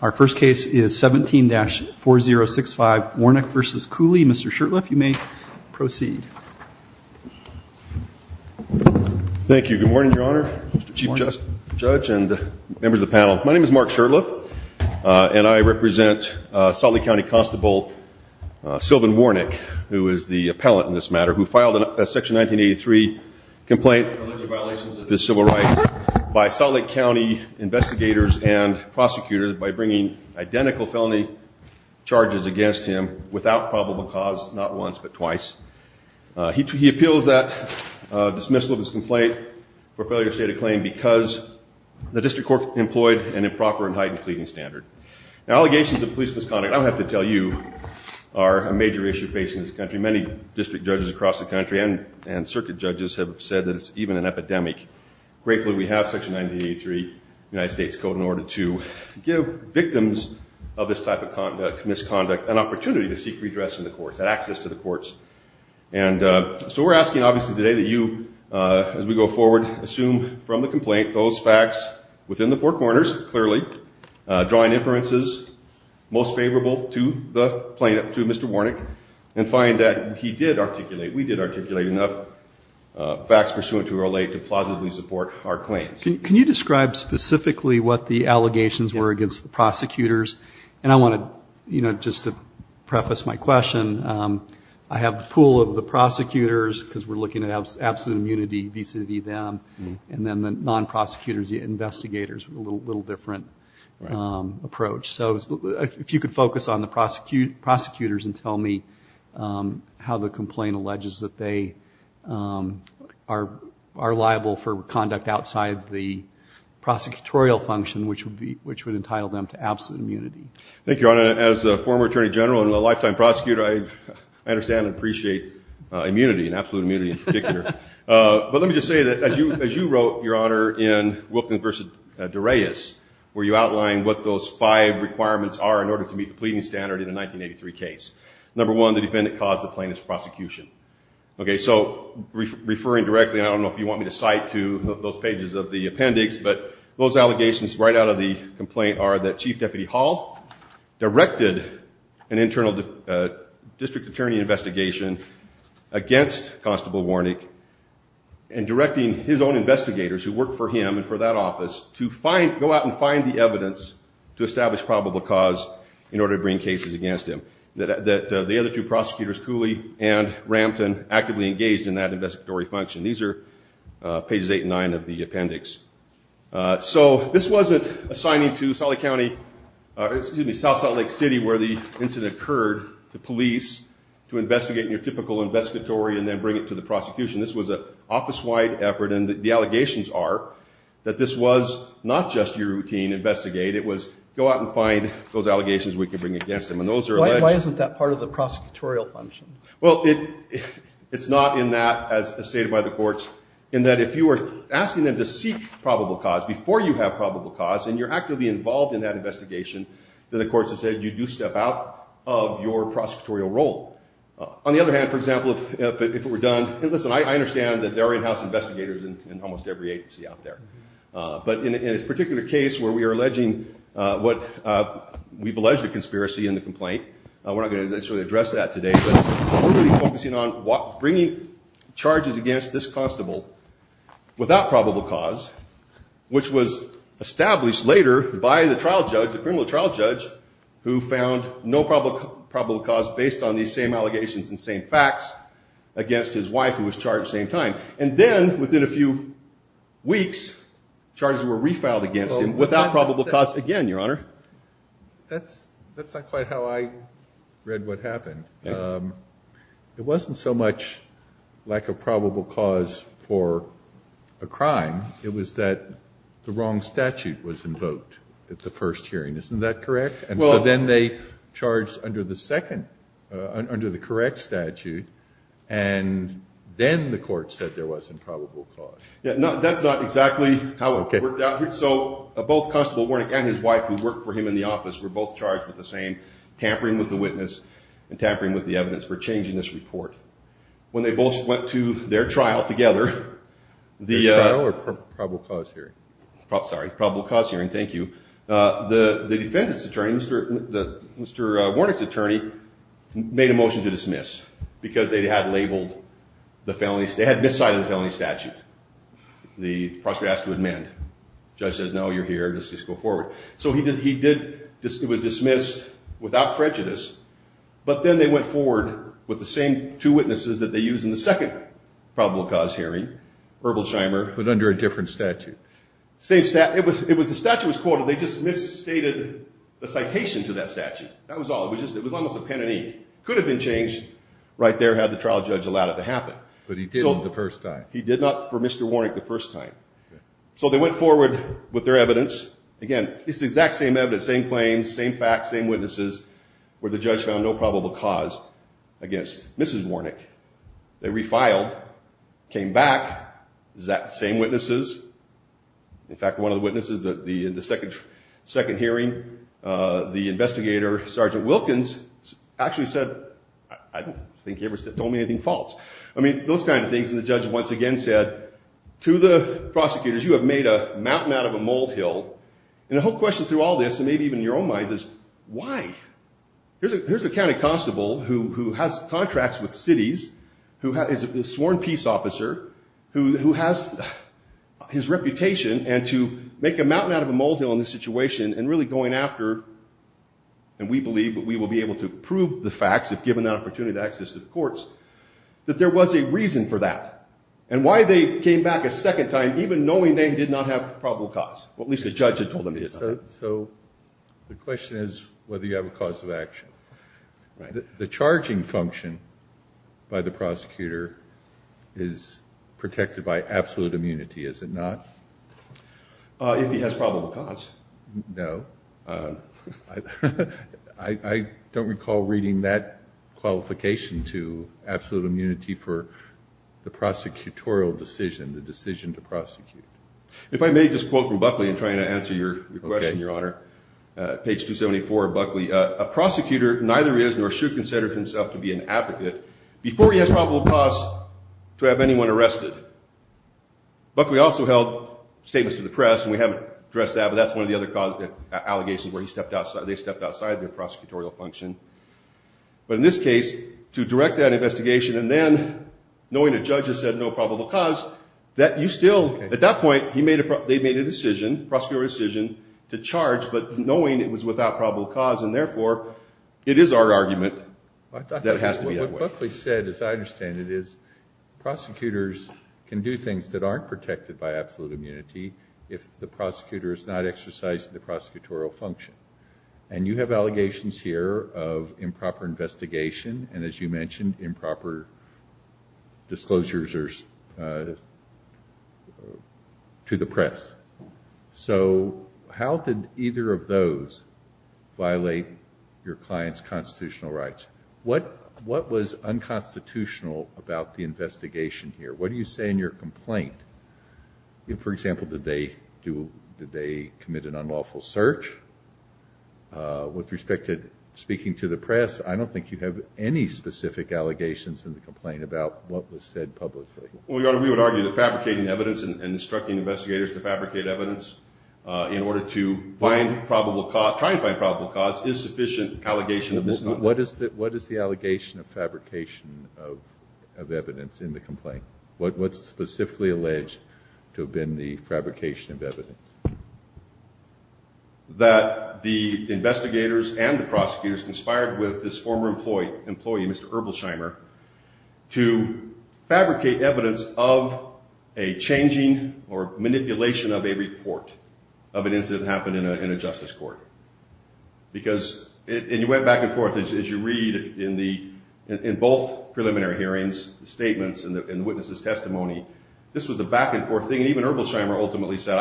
Our first case is 17-4065 Warnick v. Cooley. Mr. Shurtleff, you may proceed. Thank you. Good morning, Your Honor, Chief Judge and members of the panel. My name is Mark Shurtleff and I represent Salt Lake County Constable Sylvan Warnick, who is the appellant in this matter, who filed a Section 1983 complaint for alleged violations of his civil rights by Salt Lake County investigators and prosecutors by bringing identical felony charges against him without probable cause, not once but twice. He appeals that dismissal of his complaint for failure to state a claim because the district court employed an improper and heightened pleading standard. Now, allegations of police misconduct, I don't have to tell you, are a major issue facing this country. Many district judges across the country and circuit judges have said that it's even an United States code in order to give victims of this type of misconduct an opportunity to seek redress in the courts, have access to the courts. And so we're asking, obviously, today that you, as we go forward, assume from the complaint those facts within the four corners, clearly, drawing inferences most favorable to the plaintiff, to Mr. Warnick, and find that he did articulate, we did articulate enough facts pursuant to relate to plausibly support our claims. Can you describe specifically what the allegations were against the prosecutors? And I want to, you know, just to preface my question, I have the pool of the prosecutors, because we're looking at absolute immunity vis-a-vis them, and then the non-prosecutors, investigators, a little different approach. So if you could focus on the prosecutors and tell me how the complaint alleges that they are liable for conduct outside the prosecutorial function, which would entitle them to absolute immunity. Thank you, Your Honor. As a former attorney general and a lifetime prosecutor, I understand and appreciate immunity, and absolute immunity in particular. But let me just say that as you wrote, Your Honor, in Wilkins v. Dureas, where you outlined what those five requirements are in pleading standard in a 1983 case. Number one, the defendant caused the plaintiff's prosecution. Okay, so referring directly, I don't know if you want me to cite to those pages of the appendix, but those allegations right out of the complaint are that Chief Deputy Hall directed an internal district attorney investigation against Constable Warnick, and directing his own investigators who worked for him and for that office to go out and find the evidence to establish probable cause in order to bring cases against him. That the other two prosecutors, Cooley and Rampton, actively engaged in that investigatory function. These are pages eight and nine of the appendix. So this wasn't assigning to Salt Lake County, excuse me, South Salt Lake City where the incident occurred to police to investigate in your typical investigatory and then bring it to the prosecution. This was an office-wide effort, and the allegations are that this was not just your routine investigate, it was go out and find those allegations we can bring against them. And those are alleged- Why isn't that part of the prosecutorial function? Well, it's not in that, as stated by the courts, in that if you were asking them to seek probable cause before you have probable cause, and you're actively involved in that investigation, then the courts have said you do step out of your prosecutorial role. On the other hand, for example, if it were done, listen, I understand that there are in-house investigators in almost every agency out there, but in this particular case where we are alleging what we've alleged a conspiracy in the complaint, we're not going to necessarily address that today, but we're going to be focusing on bringing charges against this constable without probable cause, which was established later by the trial judge, the criminal trial judge, who found no probable cause based on these same allegations and same facts against his wife who was charged at the same time. And then within a few weeks, charges were refiled against him without probable cause again, Your Honor. That's not quite how I read what happened. It wasn't so much lack of probable cause for a crime, it was that the wrong statute was invoked at the first hearing. Isn't that correct? And so then they charged under the second, under the correct statute, and then the court said there was some probable cause. Yeah, that's not exactly how it worked out. So both Constable Warnick and his wife who worked for him in the office were both charged with the same, tampering with the witness and tampering with the evidence for changing this report. When they both went to their trial together, their trial or probable cause hearing? Sorry, probable cause hearing. Thank you. The defendant's attorney, Mr. Warnick's attorney, made a motion to dismiss because they had labeled the felonies, they had miscited the felony statute. The prosecutor asked to amend. Judge says, no, you're here, just go forward. So he did, he did, it was dismissed without prejudice, but then they went forward with the same two witnesses that they used in the second probable cause hearing, Herbal Scheimer. But under a different statute. Same statute, it was, it was, the statute was quoted, they just misstated the citation to that statute. That was all, it was a pen and ink. Could have been changed right there, had the trial judge allowed it to happen. But he did it the first time. He did not for Mr. Warnick the first time. So they went forward with their evidence. Again, it's the exact same evidence, same claims, same facts, same witnesses, where the judge found no probable cause against Mrs. Warnick. They refiled, came back, exact same witnesses. In fact, one of the witnesses that the, in the second, second hearing, the investigator, Sergeant Wilkins, actually said, I don't think he ever told me anything false. I mean, those kind of things. And the judge once again said, to the prosecutors, you have made a mountain out of a molehill. And the whole question through all this, and maybe even in your own minds is, why? Here's a, here's a county constable who has contracts with cities, who is a sworn peace officer, who has his reputation, and to make a mountain out of a molehill in this situation, and really going after, and we believe that we will be able to prove the facts if given that opportunity to access to the courts, that there was a reason for that. And why they came back a second time, even knowing they did not have probable cause? Well, at least the judge had told them he had not. So the question is whether you have a cause of action. The charging function by the prosecutor is protected by absolute immunity, is it not? If he has probable cause. No. I don't recall reading that qualification to absolute immunity for the prosecutorial decision, the decision to prosecute. If I may just quote from Buckley and try to answer your question, Your Honor. Page 274 of Buckley, a prosecutor neither is nor should consider himself to be an advocate before he has probable cause to have anyone arrested. Buckley also held statements to the press, and we haven't addressed that, but that's one of the other allegations where they stepped outside their prosecutorial function. But in this case, to direct that investigation, and then knowing a judge has said no probable cause, that you still, at that point, they made a decision, prosecutorial decision, to charge, but knowing it was without probable cause, and therefore, it is our argument that what Buckley said, as I understand it, is prosecutors can do things that aren't protected by absolute immunity if the prosecutor is not exercising the prosecutorial function. And you have allegations here of improper investigation, and as you mentioned, improper disclosures to the press. So how did either of those violate your client's constitutional rights? What was unconstitutional about the investigation here? What do you say in your complaint? For example, did they commit an unlawful search? With respect to speaking to the press, I don't think you have any specific allegations in the complaint about what was said publicly. Well, Your Honor, we would argue that fabricating evidence and instructing investigators to fabricate evidence in order to find probable cause, try and find probable cause, is sufficient What is the allegation of fabrication of evidence in the complaint? What's specifically alleged to have been the fabrication of evidence? That the investigators and the prosecutors conspired with this former employee, Mr. Erbelsheimer, to fabricate evidence of a changing or manipulation of a report of an incident that happened in a justice court. Because, and you went back and forth, as you read in both preliminary hearings, statements and witnesses' testimony, this was a back-and-forth thing. And even Erbelsheimer ultimately said,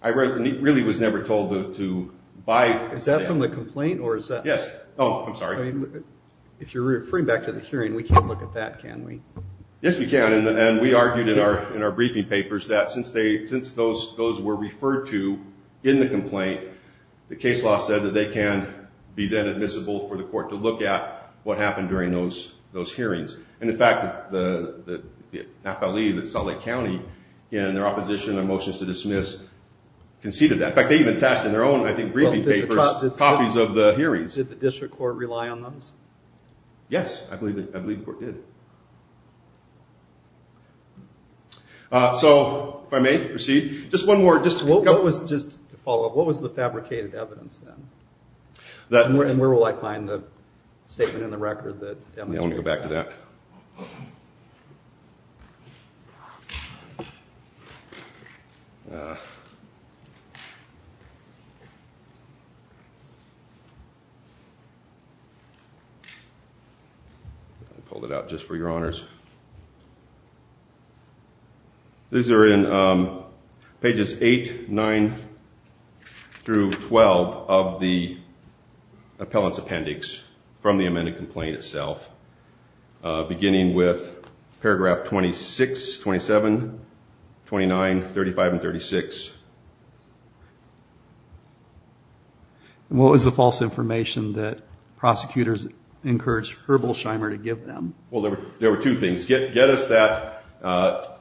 I really was never told to buy... Is that from the complaint, or is that... Yes. Oh, I'm sorry. If you're referring back to the hearing, we can't look at that, can we? Yes, we can. And we argued in our briefing papers that since those were referred to in the complaint, the case law said that they can be then admissible for the court to look at what happened during those hearings. And in fact, the NAPALE that Salt Lake County, in their opposition and their motions to dismiss, conceded that. In fact, they even attached in their own, I think, briefing papers copies of the hearings. Did the district court rely on those? Yes, I believe the court did. So, if I may proceed, just one more... Just to follow up, what was the fabricated evidence then? And where will I find the statement in the record that... Yeah, I want to go back to that. I pulled it out just for your honors. These are in pages 8, 9 through 12 of the appellant's appendix from the amended complaint itself, beginning with paragraph 26, 27, 29, 35, and 36. And what was the false information that prosecutors encouraged Herbelsheimer to give them? Well, there were two things. Get us that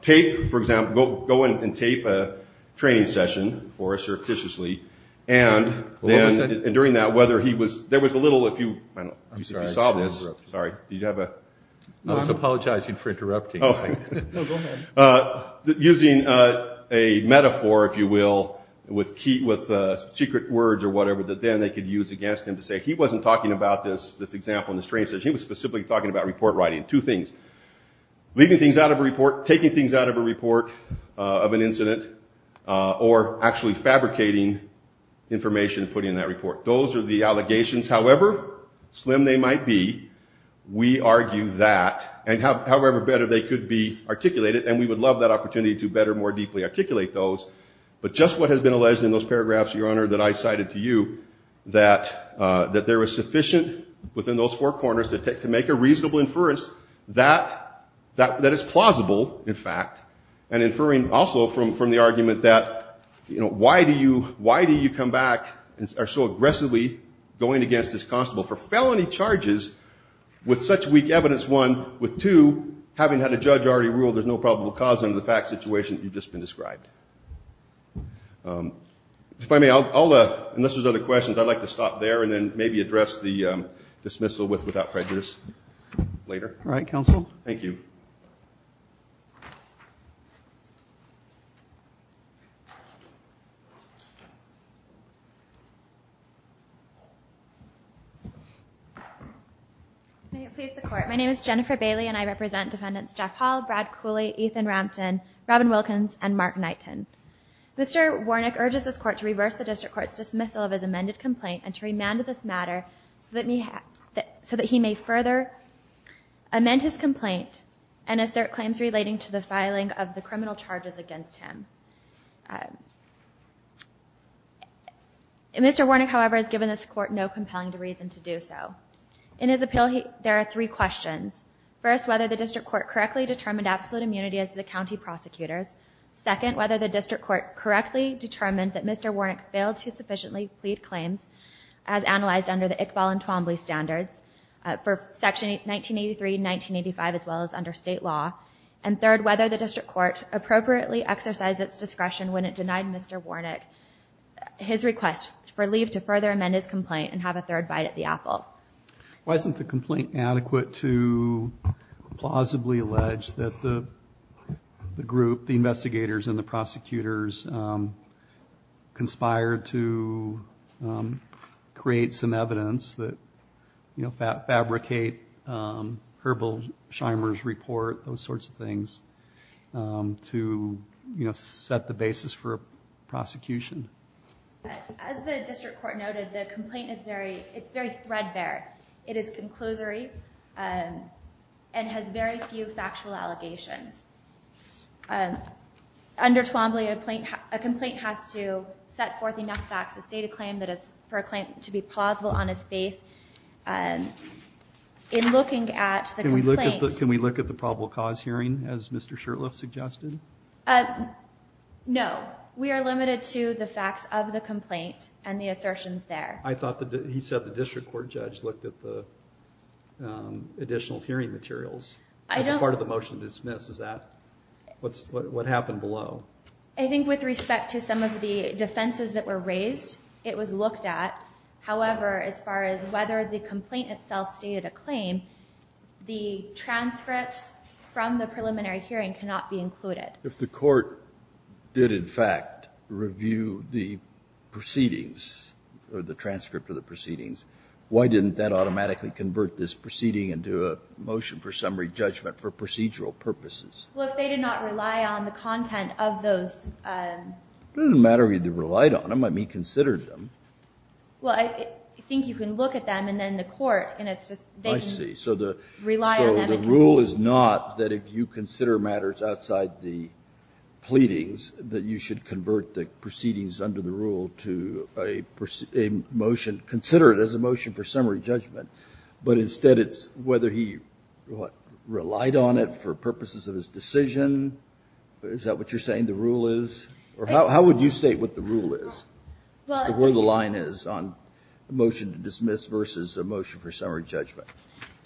tape, for example, go and tape a training session for us, surreptitiously. And during that, whether he was... There was a little, if you saw this... I'm sorry, I interrupted. Sorry, did you have a... I was apologizing for interrupting. No, go ahead. Using a metaphor, if you will, with secret words or whatever, that then they could use against him to say, he wasn't talking about this example in the training session, he was specifically talking about report writing. Two things, leaving things out of a report, taking things out of a report of an incident, or actually fabricating information and putting it in that report. Those are the allegations. However slim they might be, we argue that, and however better they could be articulated, and we would love that opportunity to better, more deeply articulate those, but just what has been alleged in those paragraphs, Your Honor, that I cited to you, that there was sufficient within those four corners to make a reasonable inference that it's plausible, in fact, and inferring also from the argument that, why do you come back and are so aggressively going against this constable for felony charges with such weak evidence? One, with two, having had a judge already rule there's no probable cause under the fact situation that you've just been described. Unless there's other questions, I'd like to stop there and then maybe address the dismissal with without prejudice later. All right, counsel. Thank you. May it please the court. My name is Jennifer Bailey, and I represent defendants Jeff Hall, Brad Cooley, Ethan Rampton, Robin Wilkins, and Mark Knighton. Mr. Warnick urges this court to reverse the district court's dismissal of his amended complaint and to remand this matter so that he may further amend his complaint and assert claims relating to the filing of the criminal charges against him. Mr. Warnick, however, has given this court no compelling reason to do so. In his appeal, there are three questions. First, whether the district court correctly determined absolute immunity as the county prosecutors. Second, whether the district court correctly determined that Mr. Warnick failed to sufficiently plead claims as analyzed under the Iqbal and Twombly standards for section 1983, 1985, as well as under state law. And third, whether the district court appropriately exercised its discretion when it denied Mr. Warnick his request for leave to further amend his complaint and have a third bite at the Why isn't the complaint adequate to plausibly allege that the group, the investigators, and the prosecutors conspired to create some evidence that fabricate Herbal Shimer's report, those sorts of things, to set the basis for prosecution? As the district court noted, the complaint is very threadbare. It is conclusory and has very few factual allegations. Under Twombly, a complaint has to set forth enough facts to state a claim for a claim to be plausible on his face. In looking at the complaint- Can we look at the probable cause hearing, as Mr. Shurtleff suggested? No. We are limited to the facts of the complaint and the assertions there. I thought that he said the district court judge looked at the additional hearing materials as part of the motion to dismiss. Is that what happened below? I think with respect to some of the defenses that were raised, it was looked at. However, as far as whether the complaint itself stated a claim, the transcripts from the preliminary hearing cannot be included. If the court did, in fact, review the proceedings or the transcript of the proceedings, why didn't that automatically convert this proceeding into a motion for summary judgment for procedural purposes? Well, if they did not rely on the content of those- It doesn't matter if they relied on them. He considered them. Well, I think you can look at them and then the court, and it's just- I see. So the- Rely on them- The rule is not that if you consider matters outside the pleadings, that you should convert the proceedings under the rule to a motion, consider it as a motion for summary judgment. But instead, it's whether he relied on it for purposes of his decision. Is that what you're saying the rule is? Or how would you state what the rule is? Where the line is on a motion to dismiss versus a motion for summary judgment?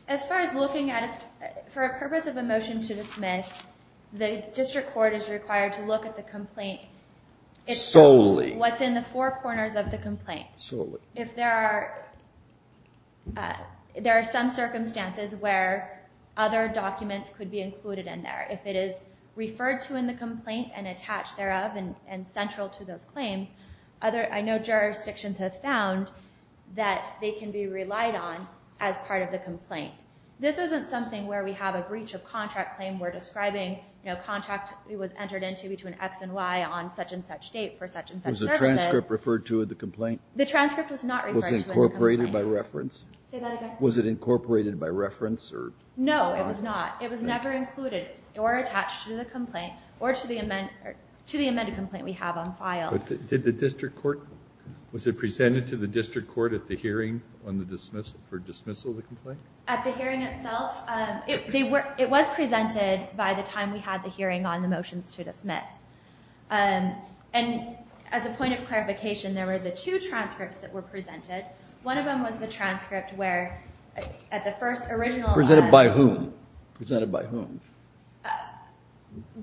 As far as looking at it, for a purpose of a motion to dismiss, the district court is required to look at the complaint- Solely. What's in the four corners of the complaint. Solely. If there are some circumstances where other documents could be included in there. If it is referred to in the complaint and attached thereof and central to those claims, I know jurisdictions have found that they can be relied on as part of the complaint. This isn't something where we have a breach of contract claim. We're describing a contract that was entered into between X and Y on such and such date for such and such purposes. Was the transcript referred to in the complaint? The transcript was not referred to in the complaint. Was it incorporated by reference? Say that again? Was it incorporated by reference or- No, it was not. It was never included or attached to the complaint or to the amended complaint we have on file. Did the district court- Was it presented to the district court at the hearing for dismissal of the complaint? At the hearing itself, it was presented by the time we had the hearing on the motions to dismiss. And as a point of clarification, there were the two transcripts that were presented. One of them was the transcript where at the first original- Presented by whom? Presented by whom?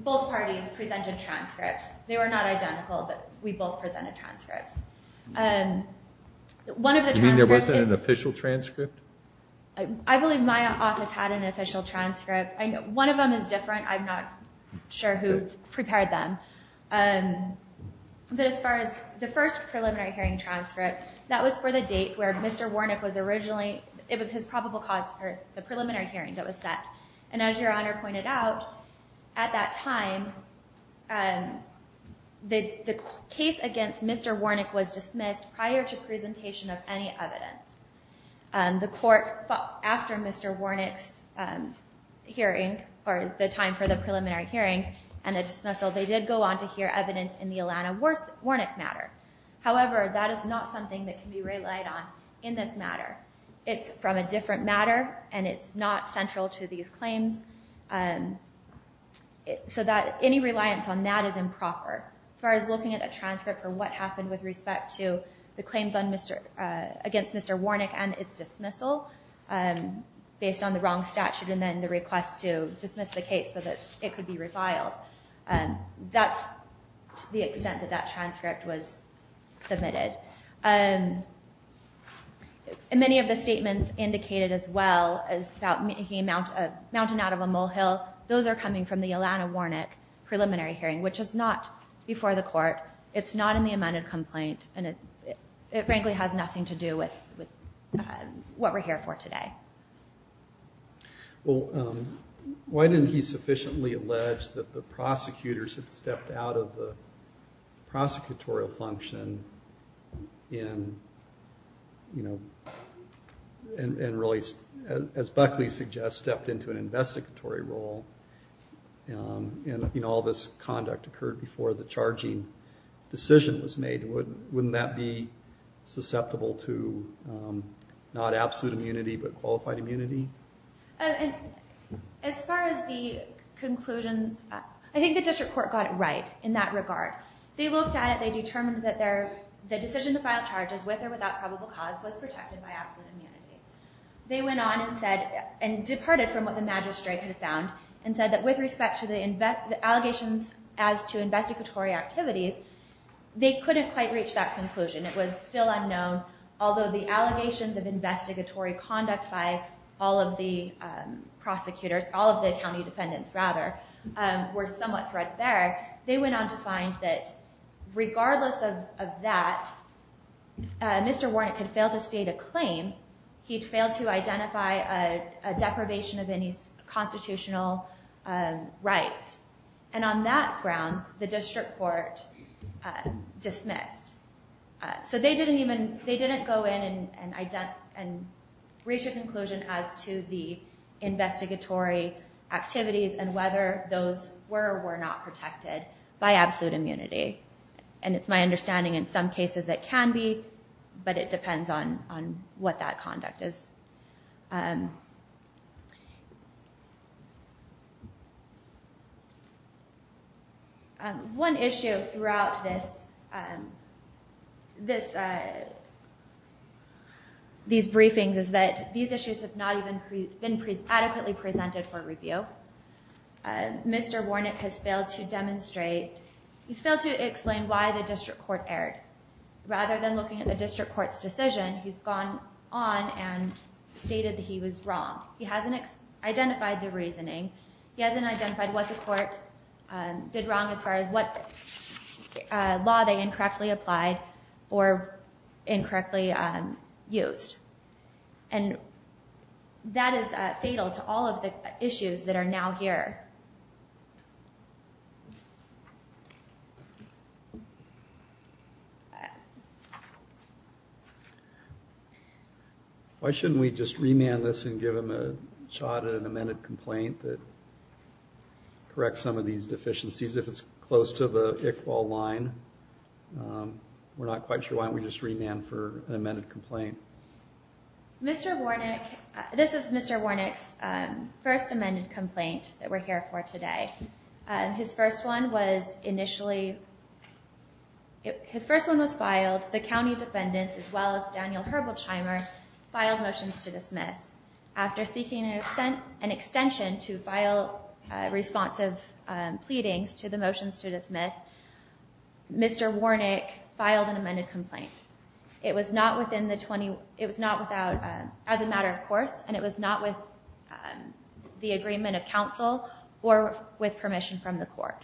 Both parties presented transcripts. They were not identical, but we both presented transcripts. One of the transcripts- You mean there wasn't an official transcript? I believe my office had an official transcript. One of them is different. I'm not sure who prepared them. But as far as the first preliminary hearing transcript, that was for the date where Mr. Warnock was originally- It was his probable cause for the preliminary hearing that was set. And as your honor pointed out, at that time, the case against Mr. Warnock was dismissed prior to presentation of any evidence. The court, after Mr. Warnock's hearing, or the time for the preliminary hearing, and the dismissal, they did go on to hear evidence in the Ilana Warnock matter. However, that is not something that can be relied on in this matter. It's from a different matter, and it's not central to these claims. So any reliance on that is improper. As far as looking at a transcript for what happened with respect to the claims against Mr. Warnock and its dismissal, based on the wrong statute and then the request to dismiss the case so that it could be refiled, that's the extent that that transcript was submitted. And many of the statements indicated as well about making a mountain out of a molehill, those are coming from the Ilana Warnock preliminary hearing, which is not before the court. It's not in the amended complaint, and it frankly has nothing to do with what we're here for today. Well, why didn't he sufficiently allege that the prosecutors had stepped out of the in, you know, and really, as Buckley suggests, stepped into an investigatory role, and all this conduct occurred before the charging decision was made? Wouldn't that be susceptible to not absolute immunity, but qualified immunity? And as far as the conclusions, I think the district court got it right in that regard. They looked at it, they determined that the decision to file charges with or without probable cause was protected by absolute immunity. They went on and said, and departed from what the magistrate had found, and said that with respect to the allegations as to investigatory activities, they couldn't quite reach that conclusion. It was still unknown, although the allegations of investigatory conduct by all of the prosecutors, all of the county defendants, rather, were somewhat threadbare. They went on to find that regardless of that, if Mr. Warnock had failed to state a claim, he'd failed to identify a deprivation of any constitutional right. And on that grounds, the district court dismissed. So they didn't even, they didn't go in and reach a conclusion as to the investigatory activities and whether those were or were not protected by absolute immunity. And it's my understanding in some cases it can be, but it depends on what that conduct is. One issue throughout this, these briefings is that these issues have not even been adequately presented for review. Mr. Warnock has failed to demonstrate, he's failed to explain why the district court erred. Rather than looking at the district court's decision, he's gone on and stated that he was wrong. He hasn't identified the reasoning. He hasn't identified what the court did wrong as far as what law they incorrectly applied or incorrectly used. And that is fatal to all of the issues that are now here. Why shouldn't we just remand this and give him a shot at an amended complaint that corrects some of these deficiencies if it's close to the Iqbal line? We're not quite sure why don't we just remand for an amended complaint? Mr. Warnock, this is Mr. Warnock's first amended complaint that we're here for today. His first one was initially, his first one was filed. The county defendants as well as Daniel Herbold-Chimer filed motions to dismiss. After seeking an extension to file responsive pleadings to the motions to dismiss, Mr. Warnock filed an amended complaint. It was not within the 20, it was not without, as a matter of course, and it was not with the agreement of counsel or with permission from the court.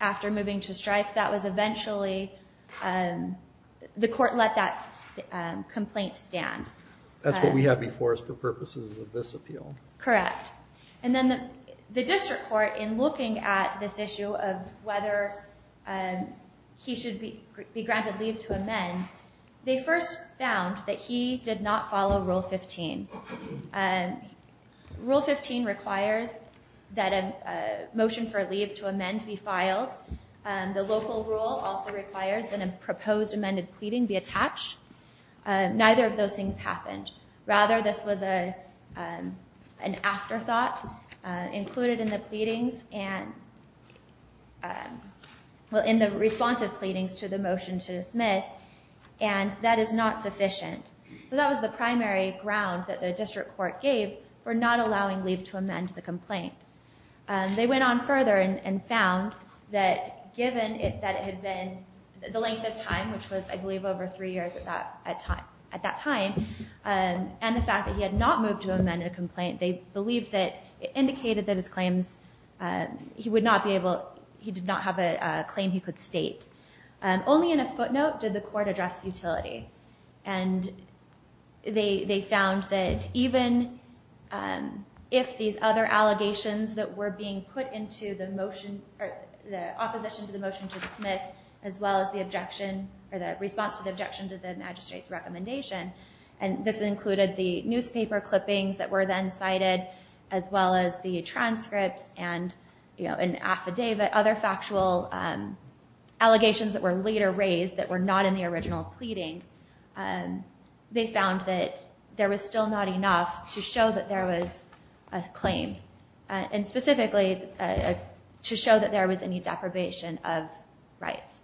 After moving to strike, that was eventually, the court let that complaint stand. That's what we have before us for purposes of this appeal. Correct. And then the district court, in looking at this issue of whether or not he should be granted leave to amend, they first found that he did not follow Rule 15. Rule 15 requires that a motion for leave to amend be filed. The local rule also requires that a proposed amended pleading be attached. Neither of those things happened. Rather, this was an afterthought included in the pleadings and, well, in the responsive pleadings to the motion to dismiss, and that is not sufficient. So that was the primary ground that the district court gave for not allowing leave to amend the complaint. They went on further and found that given that it had been, the length of time, which was, I believe, over three years at that time, and the fact that he had not moved to amend a complaint, they believed that, it indicated that his claims, he would not be able, he did not have a claim he could state. Only in a footnote did the court address futility. And they found that even if these other allegations that were being put into the motion, the opposition to the motion to dismiss, as well as the objection, or the response to the objection to the magistrate's recommendation, and this included the newspaper clippings that were then cited, as well as the transcripts and affidavit, other factual allegations that were later raised that were not in the original pleading, they found that there was still not enough to show that there was a claim. And specifically, to show that there was any deprivation of rights.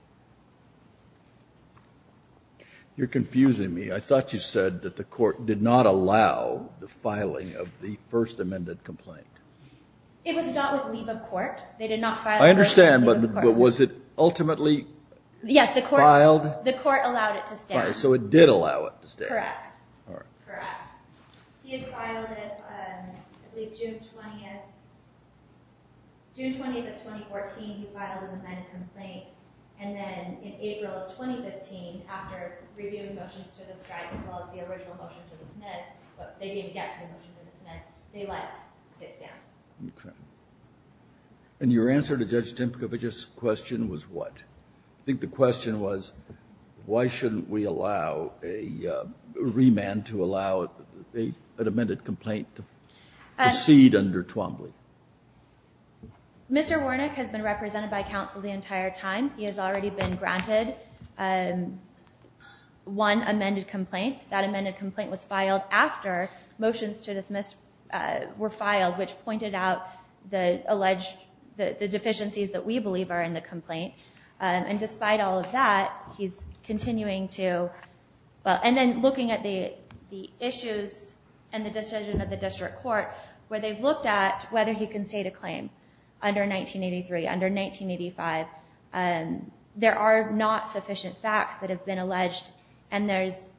You're confusing me. I thought you said that the court did not allow the filing of the first amended complaint. It was not with leave of court. They did not file. I understand, but was it ultimately filed? The court allowed it to stay. So it did allow it to stay. Correct. Correct. He had filed it, I believe, June 20th. June 20th of 2014, he filed an amended complaint. And then in April of 2015, after reviewing motions to the strike, as well as the original motion to dismiss, but they didn't get to the motion to dismiss, they let it stand. Okay. And your answer to Judge Dimkovic's question was what? I think the question was, why shouldn't we allow a remand to allow an amended complaint to proceed under Twombly? Mr. Warnick has been represented by counsel the entire time. He has already been granted one amended complaint. That amended complaint was filed after motions to dismiss were filed, which pointed out the alleged deficiencies that we believe are in the complaint. And despite all of that, he's continuing to... And then looking at the issues and the decision of the district court, where they've looked at whether he can state a claim under 1983, under 1985. There are not sufficient facts that have been alleged. And there's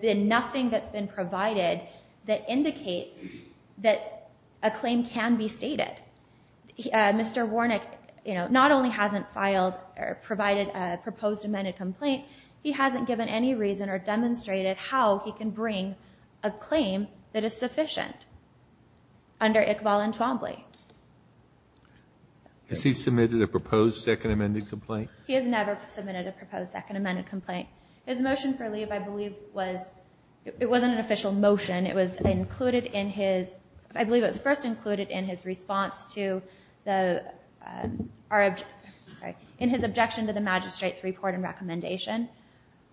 been nothing that's been provided that indicates that a claim can be stated. He, Mr. Warnick, you know, not only hasn't filed or provided a proposed amended complaint, he hasn't given any reason or demonstrated how he can bring a claim that is sufficient under ICVAL and Twombly. Has he submitted a proposed second amended complaint? He has never submitted a proposed second amended complaint. His motion for leave, I believe, was... It wasn't an official motion. It was included in his... I believe it was first included in his response to the... In his objection to the magistrate's report and recommendation.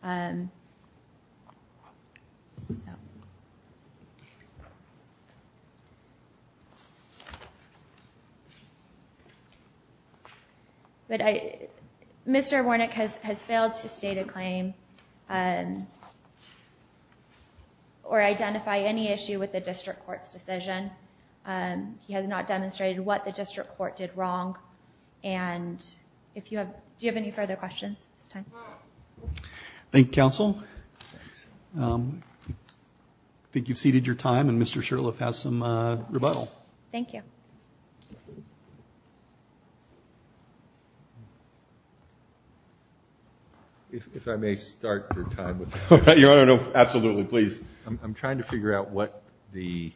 But Mr. Warnick has failed to state a claim or identify any issue with the district court's decision. He has not demonstrated what the district court did wrong. And if you have... Do you have any further questions? It's time. Thank you, counsel. I think you've ceded your time and Mr. Shurtleff has some rebuttal. Thank you. If I may start your time with... Your Honor, no, absolutely. Please. I'm trying to figure out what the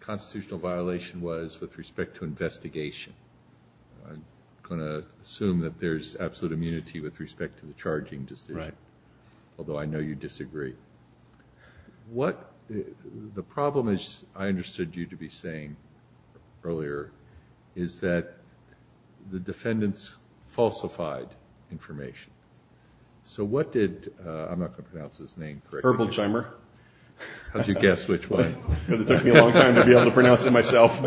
constitutional violation was with respect to investigation. I'm going to assume that there's absolute immunity with respect to the charging decision. Right. Although I know you disagree. The problem, as I understood you to be saying earlier, is that the defendants falsified information. So what did... I'm not going to pronounce his name correctly. Herboldheimer. How did you guess which one? Because it took me a long time to be able to pronounce it myself.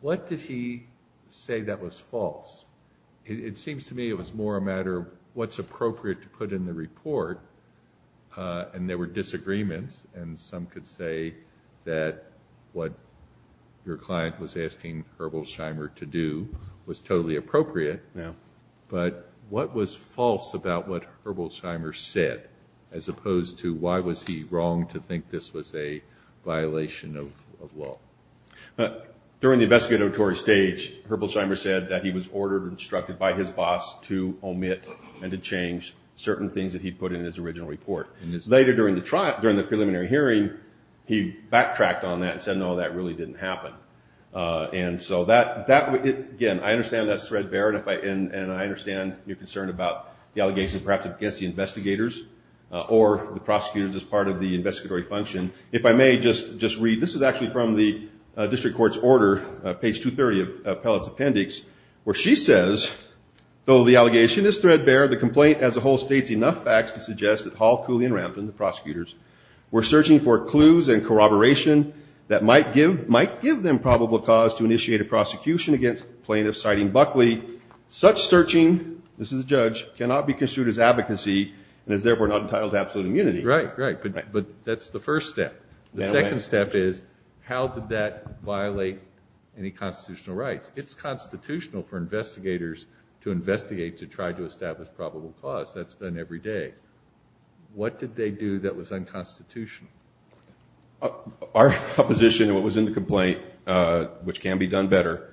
What did he say that was false? It seems to me it was more a matter of what's appropriate to put in the report. And there were disagreements and some could say that what your client was asking Herboldheimer to do was totally appropriate. Yeah. But what was false about what Herboldheimer said, as opposed to why was he wrong to think this was a violation of law? But during the investigatory stage, Herboldheimer said that he was ordered and instructed by his boss to omit and to change certain things that he put in his original report. Later during the preliminary hearing, he backtracked on that and said, no, that really didn't happen. And so that, again, I understand that's threadbare. And I understand your concern about the allegation perhaps against the investigators or the prosecutors as part of the investigatory function. If I may just read, this is actually from the district court's order, page 230 of Pellett's appendix, where she says, though the allegation is threadbare, the complaint as a whole states enough facts to suggest that Hall, Cooley, and Rampton, the prosecutors, were searching for clues and corroboration that might give them probable cause to initiate a prosecution against plaintiffs citing Buckley. Such searching, this is the judge, cannot be construed as advocacy and is therefore not entitled to absolute immunity. Right, right. But that's the first step. The second step is, how did that violate any constitutional rights? It's constitutional for investigators to investigate, to try to establish probable cause. That's done every day. What did they do that was unconstitutional? Our position and what was in the complaint, which can be done better,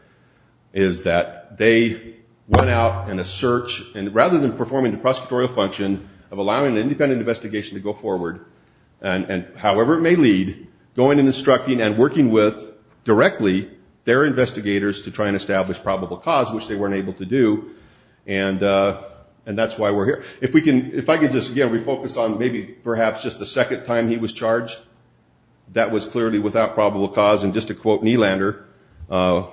is that they went out in a search and rather than performing the prosecutorial function of allowing an independent investigation to go forward, and however it may lead, going and instructing and working with directly their investigators to try and establish probable cause, which they weren't able to do. And that's why we're here. If I could just, again, refocus on maybe perhaps just the second time he was charged, that was clearly without probable cause. And just to quote Nylander,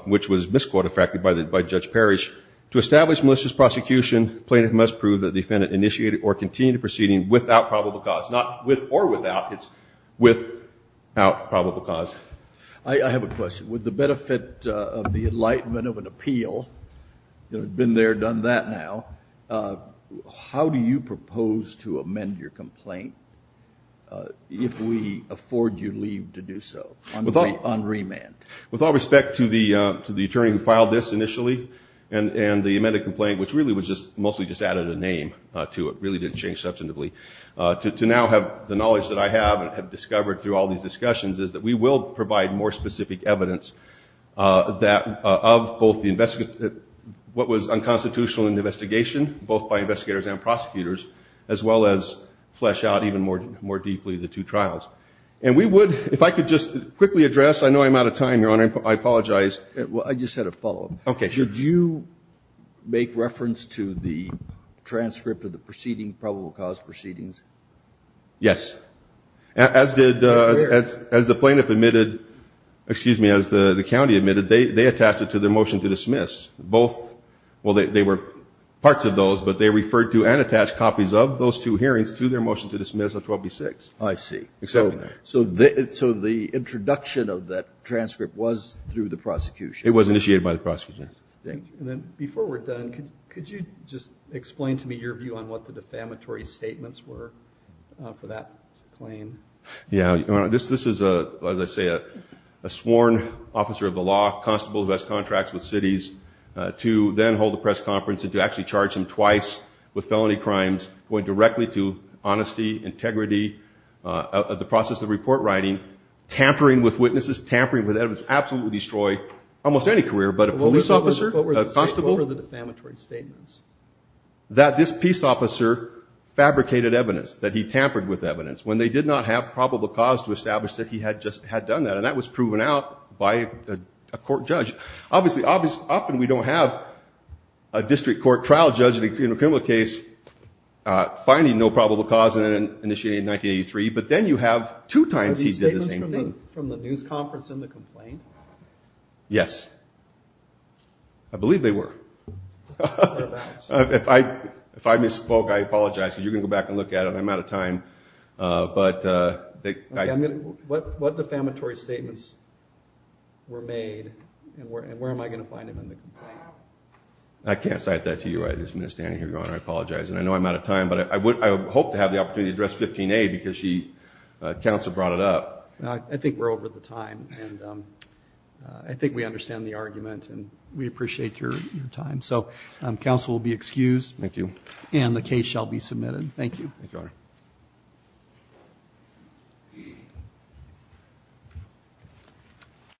which was misquote-affected by Judge Parrish, to establish malicious prosecution, plaintiff must prove that the defendant initiated or continued the proceeding without probable cause. Not with or without, it's without probable cause. I have a question. With the benefit of the enlightenment of an appeal, you know, you've been there, done that now, how do you propose to amend your complaint if we afford you leave to do so on remand? With all respect to the attorney who filed this initially and the amended complaint, which really was just, mostly just added a name to it, really didn't change substantively, to now have the knowledge that I have and have discovered through all these discussions is that we will provide more specific evidence that of both the investigation, what was unconstitutional in the investigation, both by investigators and prosecutors, as well as flesh out even more deeply the two trials. And we would, if I could just quickly address, I know I'm out of time, Your Honor, I apologize. Well, I just had to follow up. Okay, sure. Did you make reference to the transcript of the proceeding, probable cause proceedings? Yes. As did, as the plaintiff admitted, excuse me, as the county admitted, they attached it to their motion to dismiss. Both, well, they were parts of those, but they referred to and attached copies of those two hearings to their motion to dismiss of 12B-6. I see. So the introduction of that transcript was through the prosecution? It was initiated by the prosecution. Thank you. And then before we're done, could you just explain to me your view on what the defamatory statements were for that claim? Yeah, Your Honor, this is, as I say, a sworn officer of the law, constable who has contracts with cities, to then hold a press conference and to actually charge him twice with felony crimes going directly to honesty, integrity, the process of report writing, tampering with witnesses, absolutely destroy almost any career. But a police officer, a constable? What were the defamatory statements? That this peace officer fabricated evidence, that he tampered with evidence when they did not have probable cause to establish that he had just had done that. And that was proven out by a court judge. Obviously, often we don't have a district court trial judge in a criminal case finding no probable cause and then initiating in 1983. But then you have two times he did the same thing. From the news conference in the complaint? Yes. I believe they were. If I misspoke, I apologize, because you can go back and look at it. I'm out of time. But what defamatory statements were made and where am I going to find them in the complaint? I can't cite that to you, Your Honor. I apologize. And I know I'm out of time, but I hope to have the opportunity to address 15A because she, counsel brought it up. I think we're over the time. And I think we understand the argument and we appreciate your time. So counsel will be excused. Thank you. And the case shall be submitted. Thank you.